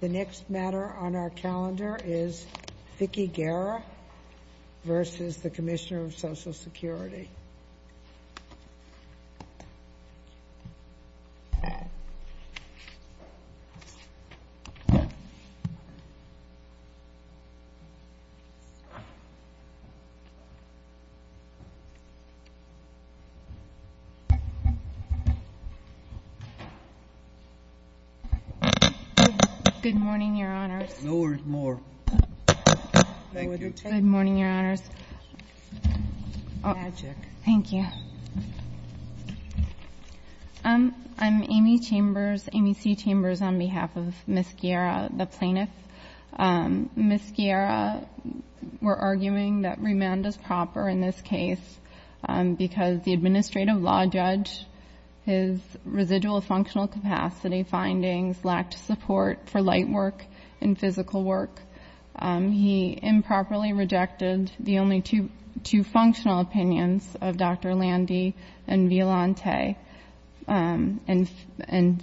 The next matter on our calendar is Vicki Guerra v. The Commissioner of Social Security. MS. GUERRA Good morning, Your Honors. MS. CHAMBERS I'm Amy Chambers, Amy C. Chambers, on behalf of Ms. Guerra, the plaintiff. Ms. Guerra, we're arguing that remand is proper in this case because the administrative law judge, his residual functional capacity findings lacked support for light work and physical work. He improperly rejected the only two functional opinions of Dr. Landy and Violante and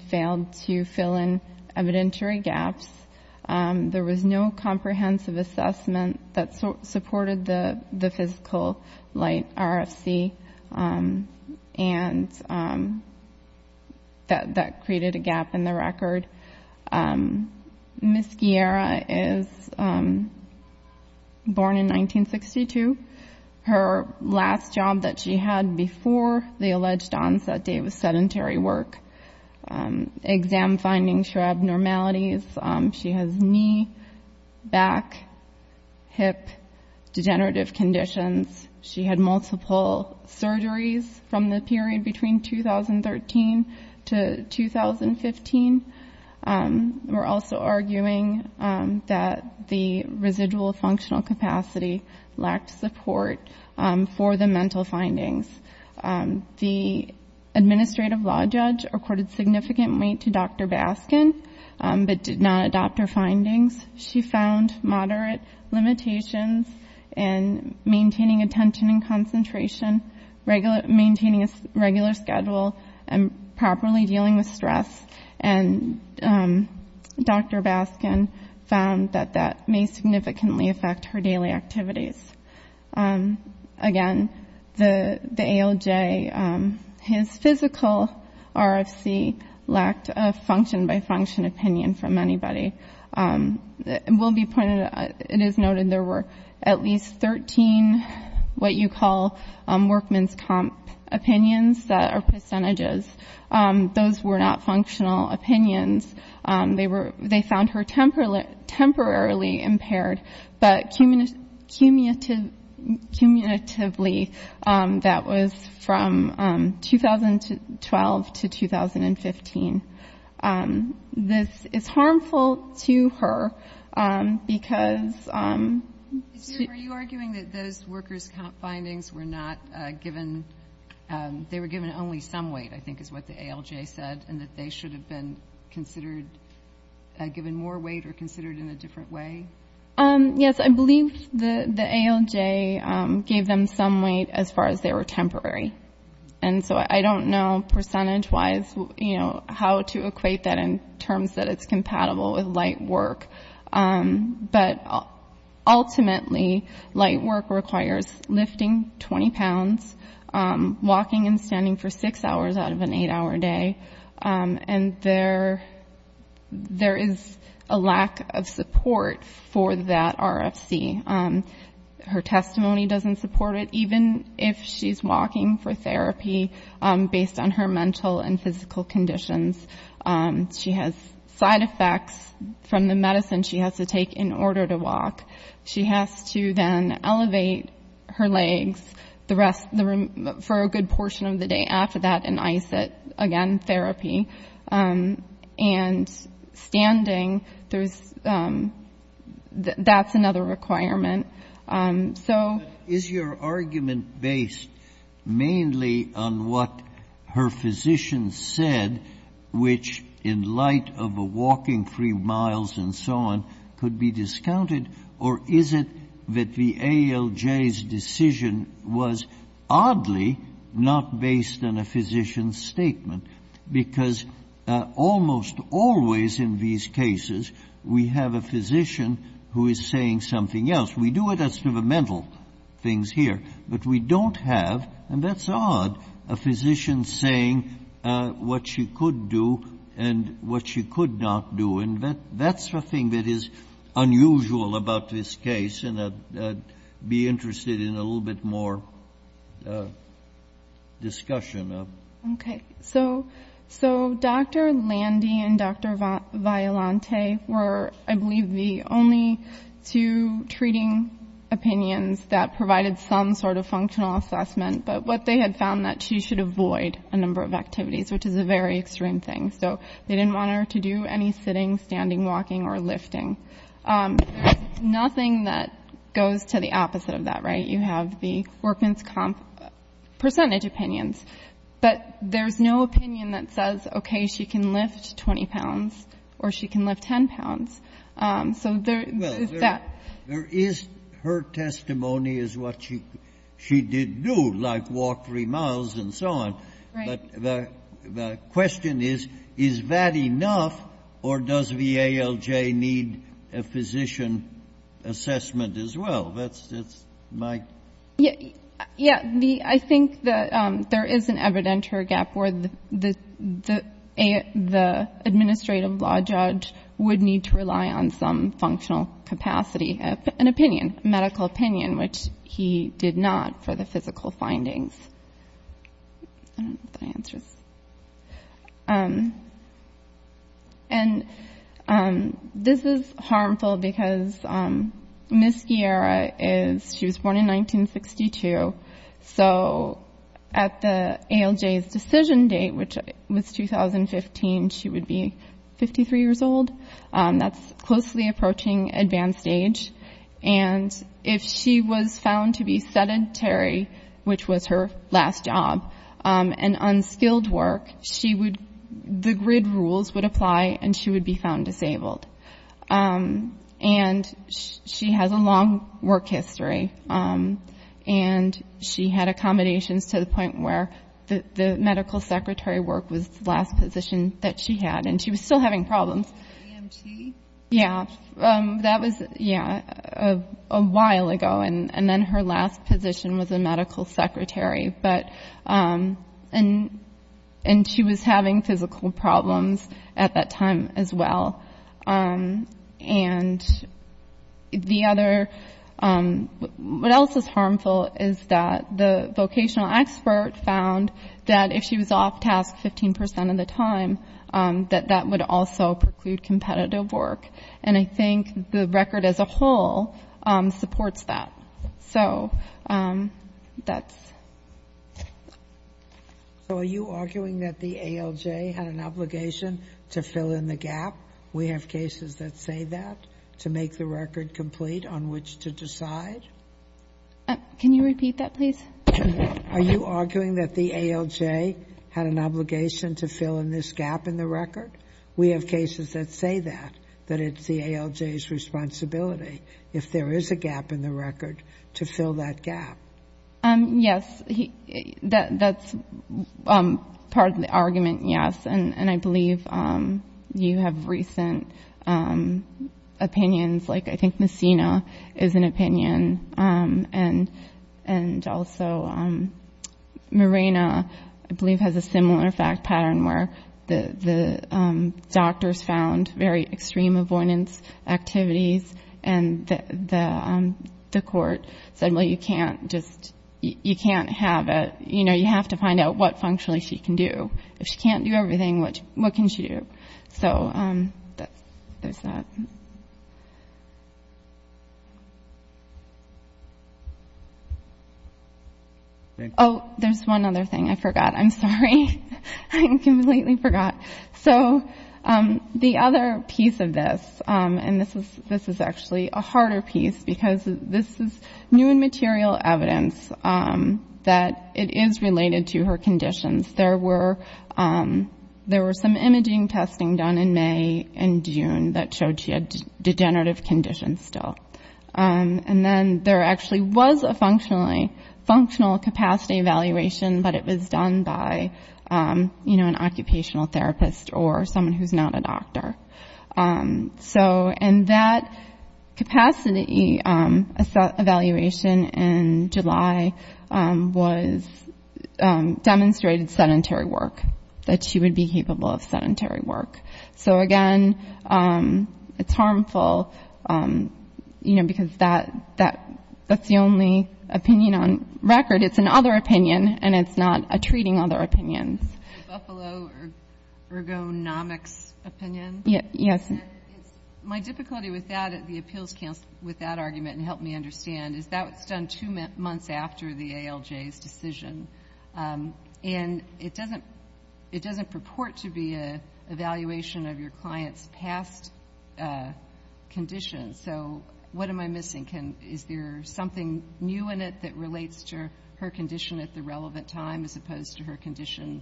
failed to fill in evidentiary gaps. There was no comprehensive assessment that supported the physical light RFC and that created a gap in the record. Ms. Guerra is born in 1962. Her last job that she had before the alleged onset day was sedentary work. Exam findings show abnormalities. She has knee, back, hip degenerative conditions. She had multiple surgeries from the period between 2013 to 2015. We're also arguing that the residual functional capacity lacked support for the mental findings. The administrative law judge reported significant weight to Dr. Baskin, but did not adopt her findings. She found moderate limitations in maintaining attention and concentration, maintaining a regular schedule, and properly dealing with her daily activities. Again, the ALJ, his physical RFC lacked a function-by-function opinion from anybody. It will be pointed out, it is noted there were at least 13 what you call workman's comp opinions that are percentages. Those were not functional opinions. They found her temporarily impaired, but cumulatively that was from 2012 to 2015. This is harmful to her because... Are you arguing that those workers' comp findings were not given, they were given only some weight, I think, is what the ALJ said, and that they should have been considered, given more weight or considered in a different way? Yes. I believe the ALJ gave them some weight as far as they were temporary. And so I don't know percentage-wise how to equate that in terms that it's compatible with light work. But ultimately, light work requires lifting 20 pounds, walking and standing for six hours out of an eight-hour day, and there is a lack of support for that RFC. Her testimony doesn't support it, even if she's walking for therapy based on her mental and physical conditions. She has side effects from the medicine she has to take in order to walk. She has to then elevate her legs for a good portion of the day after that and ice it, again, therapy. And standing, that's another requirement. So... Is your argument based mainly on what her physician said, which in light of a walking three miles and so on could be discounted, or is it that the ALJ's decision was oddly not based on a physician's statement? Because almost always in these cases we have a physician who is saying something else. We do it as to the mental things here, but we don't have, and that's odd, a physician saying what she could do and what she could not do. And that's the thing that is unusual about this case, and I'd be interested in a little bit more discussion of it. Okay. So Dr. Landy and Dr. Violante were, I believe, the only two treating opinions that provided some sort of functional assessment, but what they had found, that she should avoid a number of activities, which is a very extreme thing. So they didn't want her to do any sitting, standing, walking, or lifting. There's nothing that goes to the opposite of that, right? You have the workman's percentage opinions, but there's no opinion that says, okay, she can lift 20 pounds or she can lift 10 pounds. So there is that. Well, there is her testimony is what she did do, like walk three miles and so on. Right. But the question is, is that enough or does VALJ need a physician assessment as well? That's my question. Yeah. I think that there is an evidenter gap where the administrative law judge would need to rely on some functional capacity, an opinion, a medical opinion, which he did not for the physical findings. I don't know if that answers. And this is harmful because Ms. Guerra is, she was born in 1962, so at the ALJ's decision date, which was 2015, she would be 53 years old. That's closely approaching advanced age. And if she was found to be sedentary, which was her first or last job, and unskilled work, she would, the grid rules would apply and she would be found disabled. And she has a long work history, and she had accommodations to the point where the medical secretary work was the last position that she had, and she was still having problems. EMT? Yeah. That was, yeah, a while ago. And then her last position was a medical secretary. And she was having physical problems at that time as well. And the other, what else is harmful is that the vocational expert found that if she was off-task 15 percent of the time, that that would also preclude competitive work. And I think the record as a whole supports that. So are you arguing that the ALJ had an obligation to fill in the gap? We have cases that say that, to make the record complete on which to decide? Can you repeat that, please? Is there a gap in the record? We have cases that say that, that it's the ALJ's responsibility, if there is a gap in the record, to fill that gap. Yes. That's part of the argument, yes. And I believe you have recent opinions. And also Mirena, I believe, has a similar fact pattern where the doctors found very extreme avoidance activities, and the court said, well, you can't just, you can't have a, you know, you have to find out what functionally she can do. If she can't do everything, what can she do? Oh, there's one other thing I forgot. I'm sorry. I completely forgot. So the other piece of this, and this is actually a harder piece, because this is new and material evidence that it is related to her conditions. There were some imaging testing done in May and June that showed she had degenerative conditions still. And then there actually was a functional capacity evaluation, but it was done by, you know, an occupational therapist or someone who's not a doctor. And that capacity evaluation in July was, demonstrated sedentary work, that she would be capable of sedentary work. So, again, it's harmful, you know, because that's the only opinion on record. It's an other opinion, and it's not treating other opinions. Buffalo ergonomics opinion? Yes. My difficulty with that, the appeals counsel, with that argument, and help me understand, is the evaluation of your client's past conditions. So what am I missing? Is there something new in it that relates to her condition at the relevant time, as opposed to her condition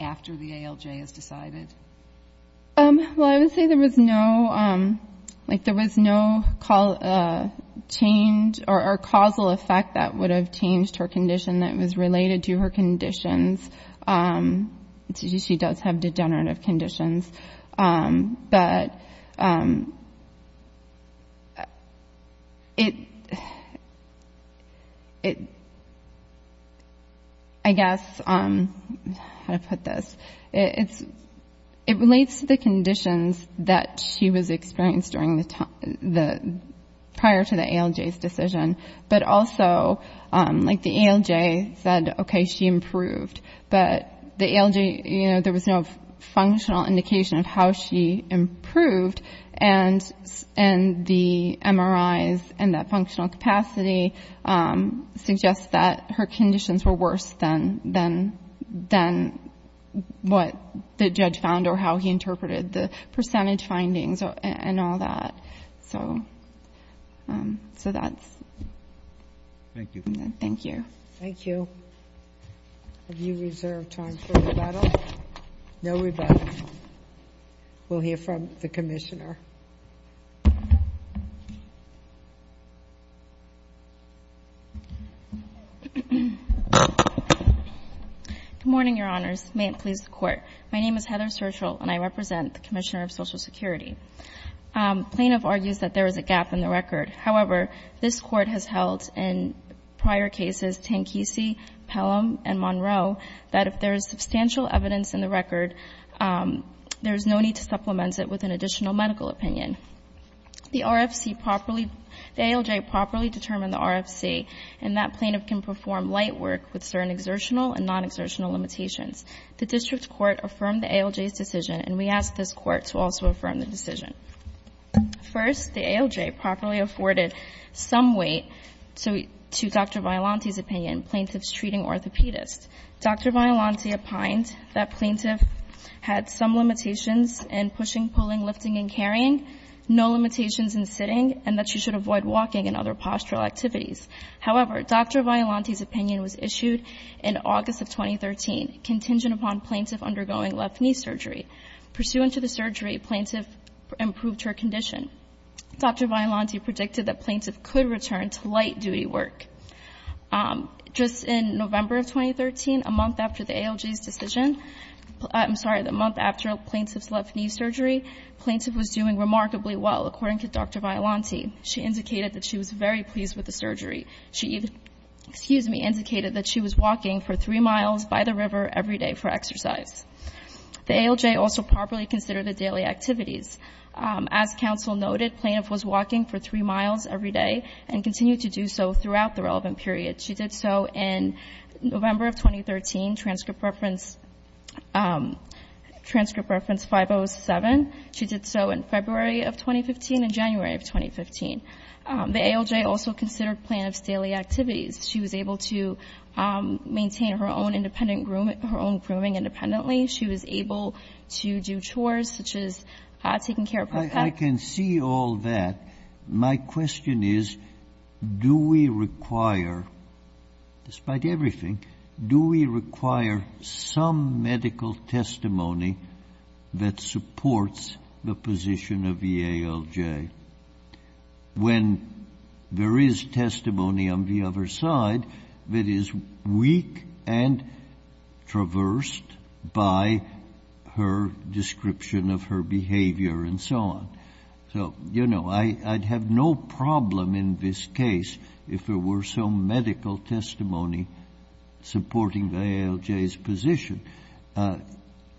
after the ALJ is decided? Well, I would say there was no, like, there was no change or causal effect that would have changed her condition that was related to her conditions. She does have degenerative conditions, but it, I guess, how to put this, it relates to the conditions that she was experiencing prior to the ALJ's decision. But also, like, the ALJ said, okay, she improved. But the ALJ, you know, there was no functional indication of how she improved, and the MRIs and that functional capacity suggests that her conditions were worse than what the judge found, or how he interpreted the percentage findings and all that. So that's. Thank you. Thank you. Thank you. Have you reserved time for rebuttal? No rebuttal. We'll hear from the Commissioner. Good morning, Your Honors. May it please the Court. My name is Heather Sertial, and I represent the Commissioner of Social Security. Plaintiff argues that there is a gap in the record. However, this Court has held in prior cases, Tanquisi, Pelham, and Monroe, that if there is substantial evidence in the record, there is no need to supplement it with an additional medical opinion. The RFC properly, the ALJ properly determined the RFC, and that plaintiff can perform light work with certain exertional and non-exertional limitations. The district court affirmed the ALJ's decision, and we ask this Court to also affirm the decision. First, the ALJ properly afforded some weight to Dr. Violante's opinion, plaintiff's treating orthopedist. Dr. Violante opined that plaintiff had some limitations in pushing, pulling, lifting, and carrying, no limitations in sitting, and that she should avoid walking and other postural activities. However, Dr. Violante's opinion was issued in August of 2013, contingent upon plaintiff undergoing left knee surgery. Pursuant to the surgery, plaintiff improved her condition. Dr. Violante predicted that plaintiff could return to light duty work. Just in November of 2013, a month after the ALJ's decision, I'm sorry, the month after plaintiff's left knee surgery, plaintiff was doing remarkably well, according to Dr. Violante. She indicated that she was very pleased with the surgery. She even, excuse me, indicated that she was walking for three miles by the river every day for exercise. The ALJ also properly considered the daily activities. As counsel noted, plaintiff was walking for three miles every day and continued to do so throughout the relevant period. She did so in November of 2013, transcript reference 507. She did so in February of 2015 and January of 2015. The ALJ also considered plaintiff's daily activities. She was able to maintain her own independent grooming, her own grooming independently. She was able to do chores, such as taking care of her pet. I can see all that. My question is, do we require, despite everything, do we require some medical testimony that supports the position of the ALJ when there is testimony on the other side that is weak and traversed by her description of her behavior and so on? So, you know, I'd have no problem in this case if there were some medical testimony supporting the ALJ's position.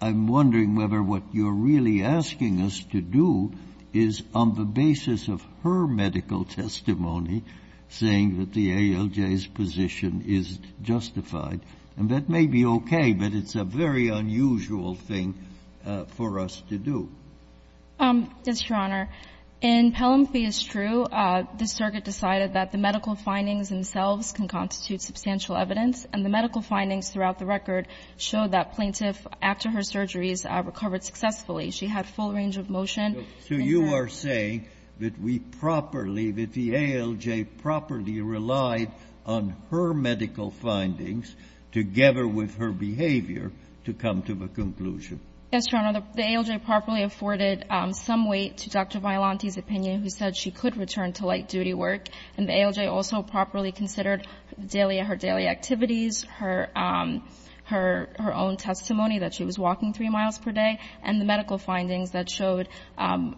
I'm wondering whether what you're really asking us to do is on the basis of her medical testimony saying that the ALJ's position is justified. And that may be okay, but it's a very unusual thing for us to do. Yes, Your Honor. In Pelham v. Strew, the circuit decided that the medical findings themselves can constitute substantial evidence, and the medical findings throughout the record show that plaintiff, after her surgeries, recovered successfully. She had full range of motion. So you are saying that we properly, that the ALJ properly relied on her medical findings together with her behavior to come to the conclusion? Yes, Your Honor. The ALJ properly afforded some weight to Dr. Violante's opinion, who said she could return to light-duty work. And the ALJ also properly considered her daily activities, her own testimony that she was walking three miles per day, and the medical findings that showed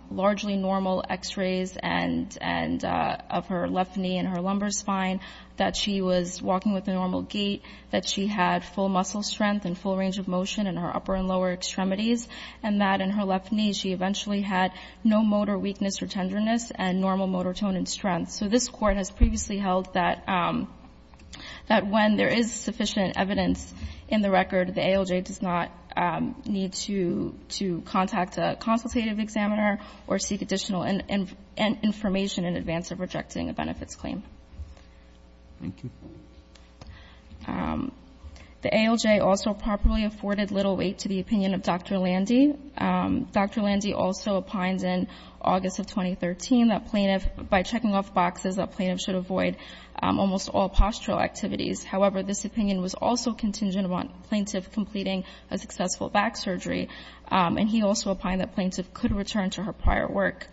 largely normal X-rays of her left knee and her lumbar spine, that she was walking with a normal gait, that she had full muscle strength and full range of motion in her upper and lower extremities, and that in her left knee she eventually had no motor weakness or tenderness and normal motor tone and strength. So this Court has previously held that when there is sufficient evidence in the record, the ALJ does not need to contact a consultative examiner or seek additional information in advance of rejecting a benefits claim. Thank you. The ALJ also properly afforded little weight to the opinion of Dr. Landy. Dr. Landy also opined in August of 2013 that plaintiff, by checking off boxes, that plaintiff should avoid almost all postural activities. However, this opinion was also contingent upon plaintiff completing a successful back surgery, and he also opined that plaintiff could return to her prior work.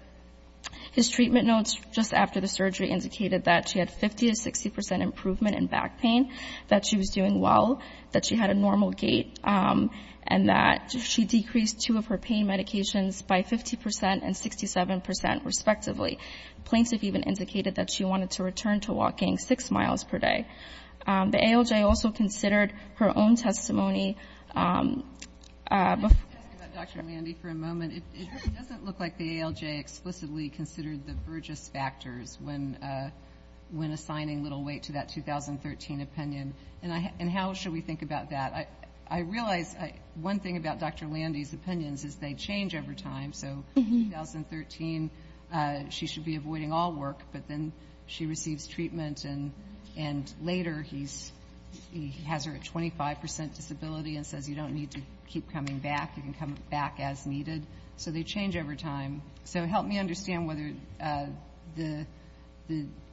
His treatment notes just after the surgery indicated that she had 50 to 60 percent improvement in back pain, that she was doing well, that she had a normal gait, and that she decreased two of her pain medications by 50 percent and 67 percent, respectively. Plaintiff even indicated that she wanted to return to walking six miles per day. The ALJ also considered her own testimony. Can I ask about Dr. Landy for a moment? It doesn't look like the ALJ explicitly considered the Burgess factors when assigning little weight to that 2013 opinion. And how should we think about that? I realize one thing about Dr. Landy's opinions is they change over time. So in 2013, she should be avoiding all work, but then she receives treatment, and later he has her at 25 percent disability and says you don't need to keep coming back, you can come back as needed. So they change over time. So help me understand whether the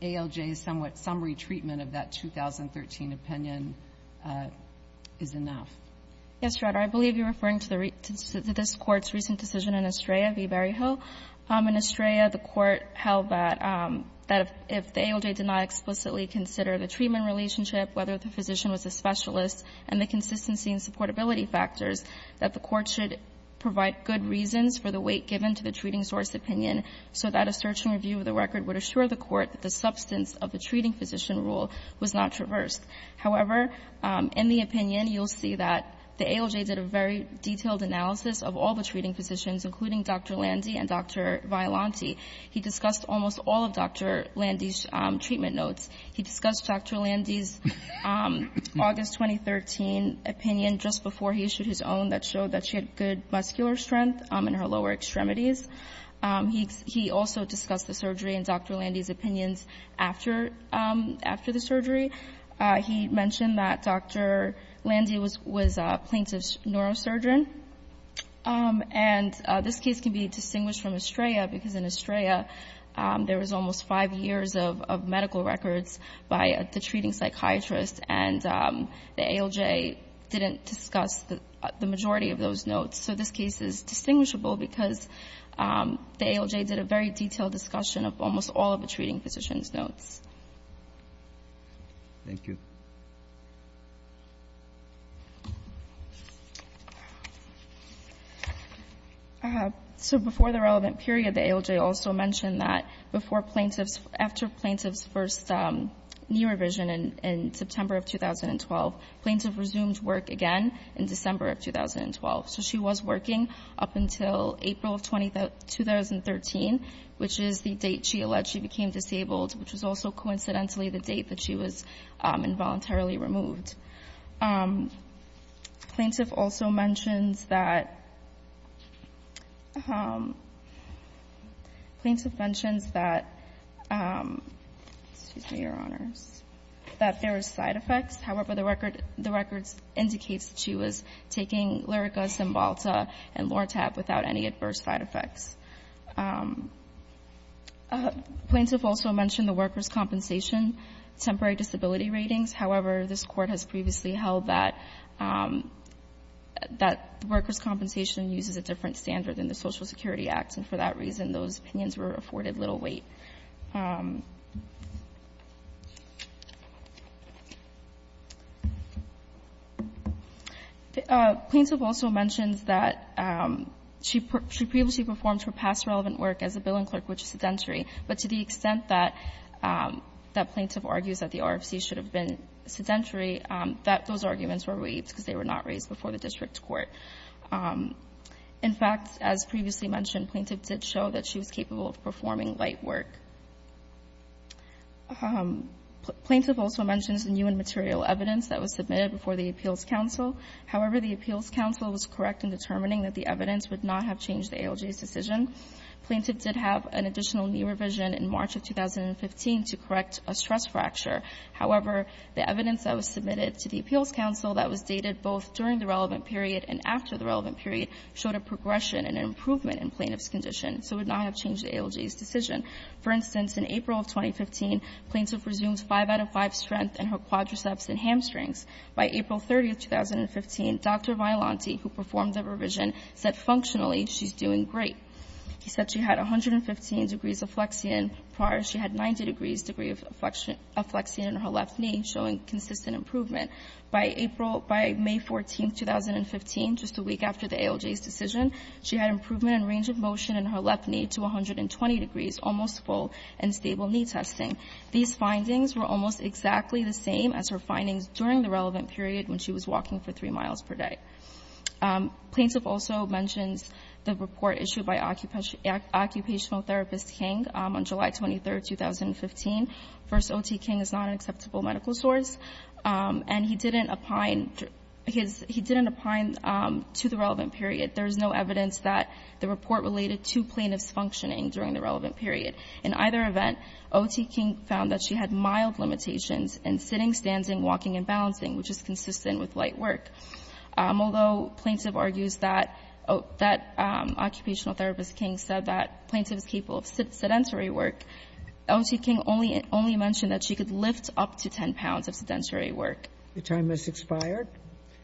ALJ's somewhat summary treatment of that 2013 opinion is enough. Yes, Your Honor. I believe you're referring to this Court's recent decision in Estrella v. Berryhill. In Estrella, the Court held that if the ALJ did not explicitly consider the treatment relationship, whether the physician was a specialist, and the consistency and supportability that the Court should provide good reasons for the weight given to the treating source opinion so that a search and review of the record would assure the Court that the substance of the treating physician rule was not traversed. However, in the opinion, you'll see that the ALJ did a very detailed analysis of all the treating physicians, including Dr. Landy and Dr. Violante. He discussed almost all of Dr. Landy's treatment notes. He discussed Dr. Landy's August 2013 opinion just before he issued his own that showed that she had good muscular strength in her lower extremities. He also discussed the surgery and Dr. Landy's opinions after the surgery. He mentioned that Dr. Landy was a plaintiff's neurosurgeon. And this case can be distinguished from Estrella because in Estrella there was almost five years of medical records by the treating psychiatrist, and the ALJ didn't discuss the majority of those notes. So this case is distinguishable because the ALJ did a very detailed discussion of almost all of the treating physician's notes. Roberts. Thank you. So before the relevant period, the ALJ also mentioned that before plaintiff after plaintiff's first knee revision in September of 2012, plaintiff resumed work again in December of 2012. So she was working up until April of 2013, which is the date she alleged she became disabled, which was also coincidentally the date that she was involuntarily removed. Plaintiff also mentions that plaintiff mentions that, excuse me, Your Honors, that there was side effects. However, the record indicates that she was taking Lyrica, Cymbalta, and Lortab without any adverse side effects. Plaintiff also mentioned the worker's compensation, temporary disability ratings. However, this Court has previously held that the worker's compensation uses a different standard than the Social Security Act, and for that reason those opinions were afforded little weight. Plaintiff also mentions that she previously performed her past relevant work as a billing clerk, which is sedentary, but to the extent that plaintiff argues that the RFC should have been sedentary, that those arguments were waived because they were not raised before the district court. In fact, as previously mentioned, plaintiff did show that she was capable of performing light work. Plaintiff also mentions the new and material evidence that was submitted before the Appeals Council. However, the Appeals Council was correct in determining that the evidence would not have changed the ALJ's decision. Plaintiff did have an additional knee revision in March of 2015 to correct a stress fracture. However, the evidence that was submitted to the Appeals Council that was dated both during the relevant period and after the relevant period showed a progression and an improvement in plaintiff's condition, so it would not have changed the ALJ's decision. For instance, in April of 2015, plaintiff resumed 5 out of 5 strength in her quadriceps and hamstrings. By April 30th, 2015, Dr. Violante, who performed the revision, said functionally she's doing great. He said she had 115 degrees of flexion. Prior, she had 90 degrees degree of flexion in her left knee, showing consistent improvement. By April — by May 14th, 2015, just a week after the ALJ's decision, she had improvement in range of motion in her left knee to 120 degrees, almost full and stable knee testing. These findings were almost exactly the same as her findings during the relevant period when she was walking for 3 miles per day. Plaintiff also mentions the report issued by occupational therapist King on July 23rd, 2015. First, O.T. King is not an acceptable medical source, and he didn't opine his — he didn't opine to the relevant period. There is no evidence that the report related to plaintiff's functioning during the relevant period. In either event, O.T. King found that she had mild limitations in sitting, standing, walking, and balancing, which is consistent with light work. Although plaintiff argues that — that occupational therapist King said that plaintiff is capable of sedentary work, O.T. King only — only mentioned that she could lift up to 10 pounds of sedentary work. The time has expired.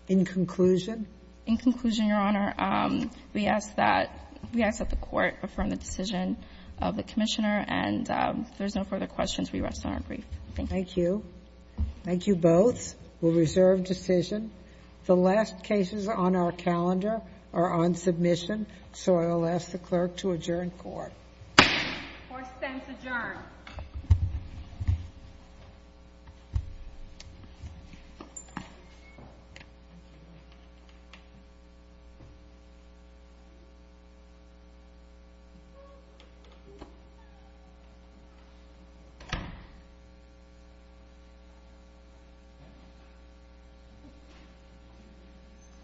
In conclusion? In conclusion, Your Honor, we ask that — we ask that the Court affirm the decision of the Commissioner, and if there's no further questions, we rest on our brief. Thank you. Thank you. Thank you both. The defense will reserve decision. The last cases on our calendar are on submission, so I'll ask the clerk to adjourn court. Fourth sentence adjourned. Thank you.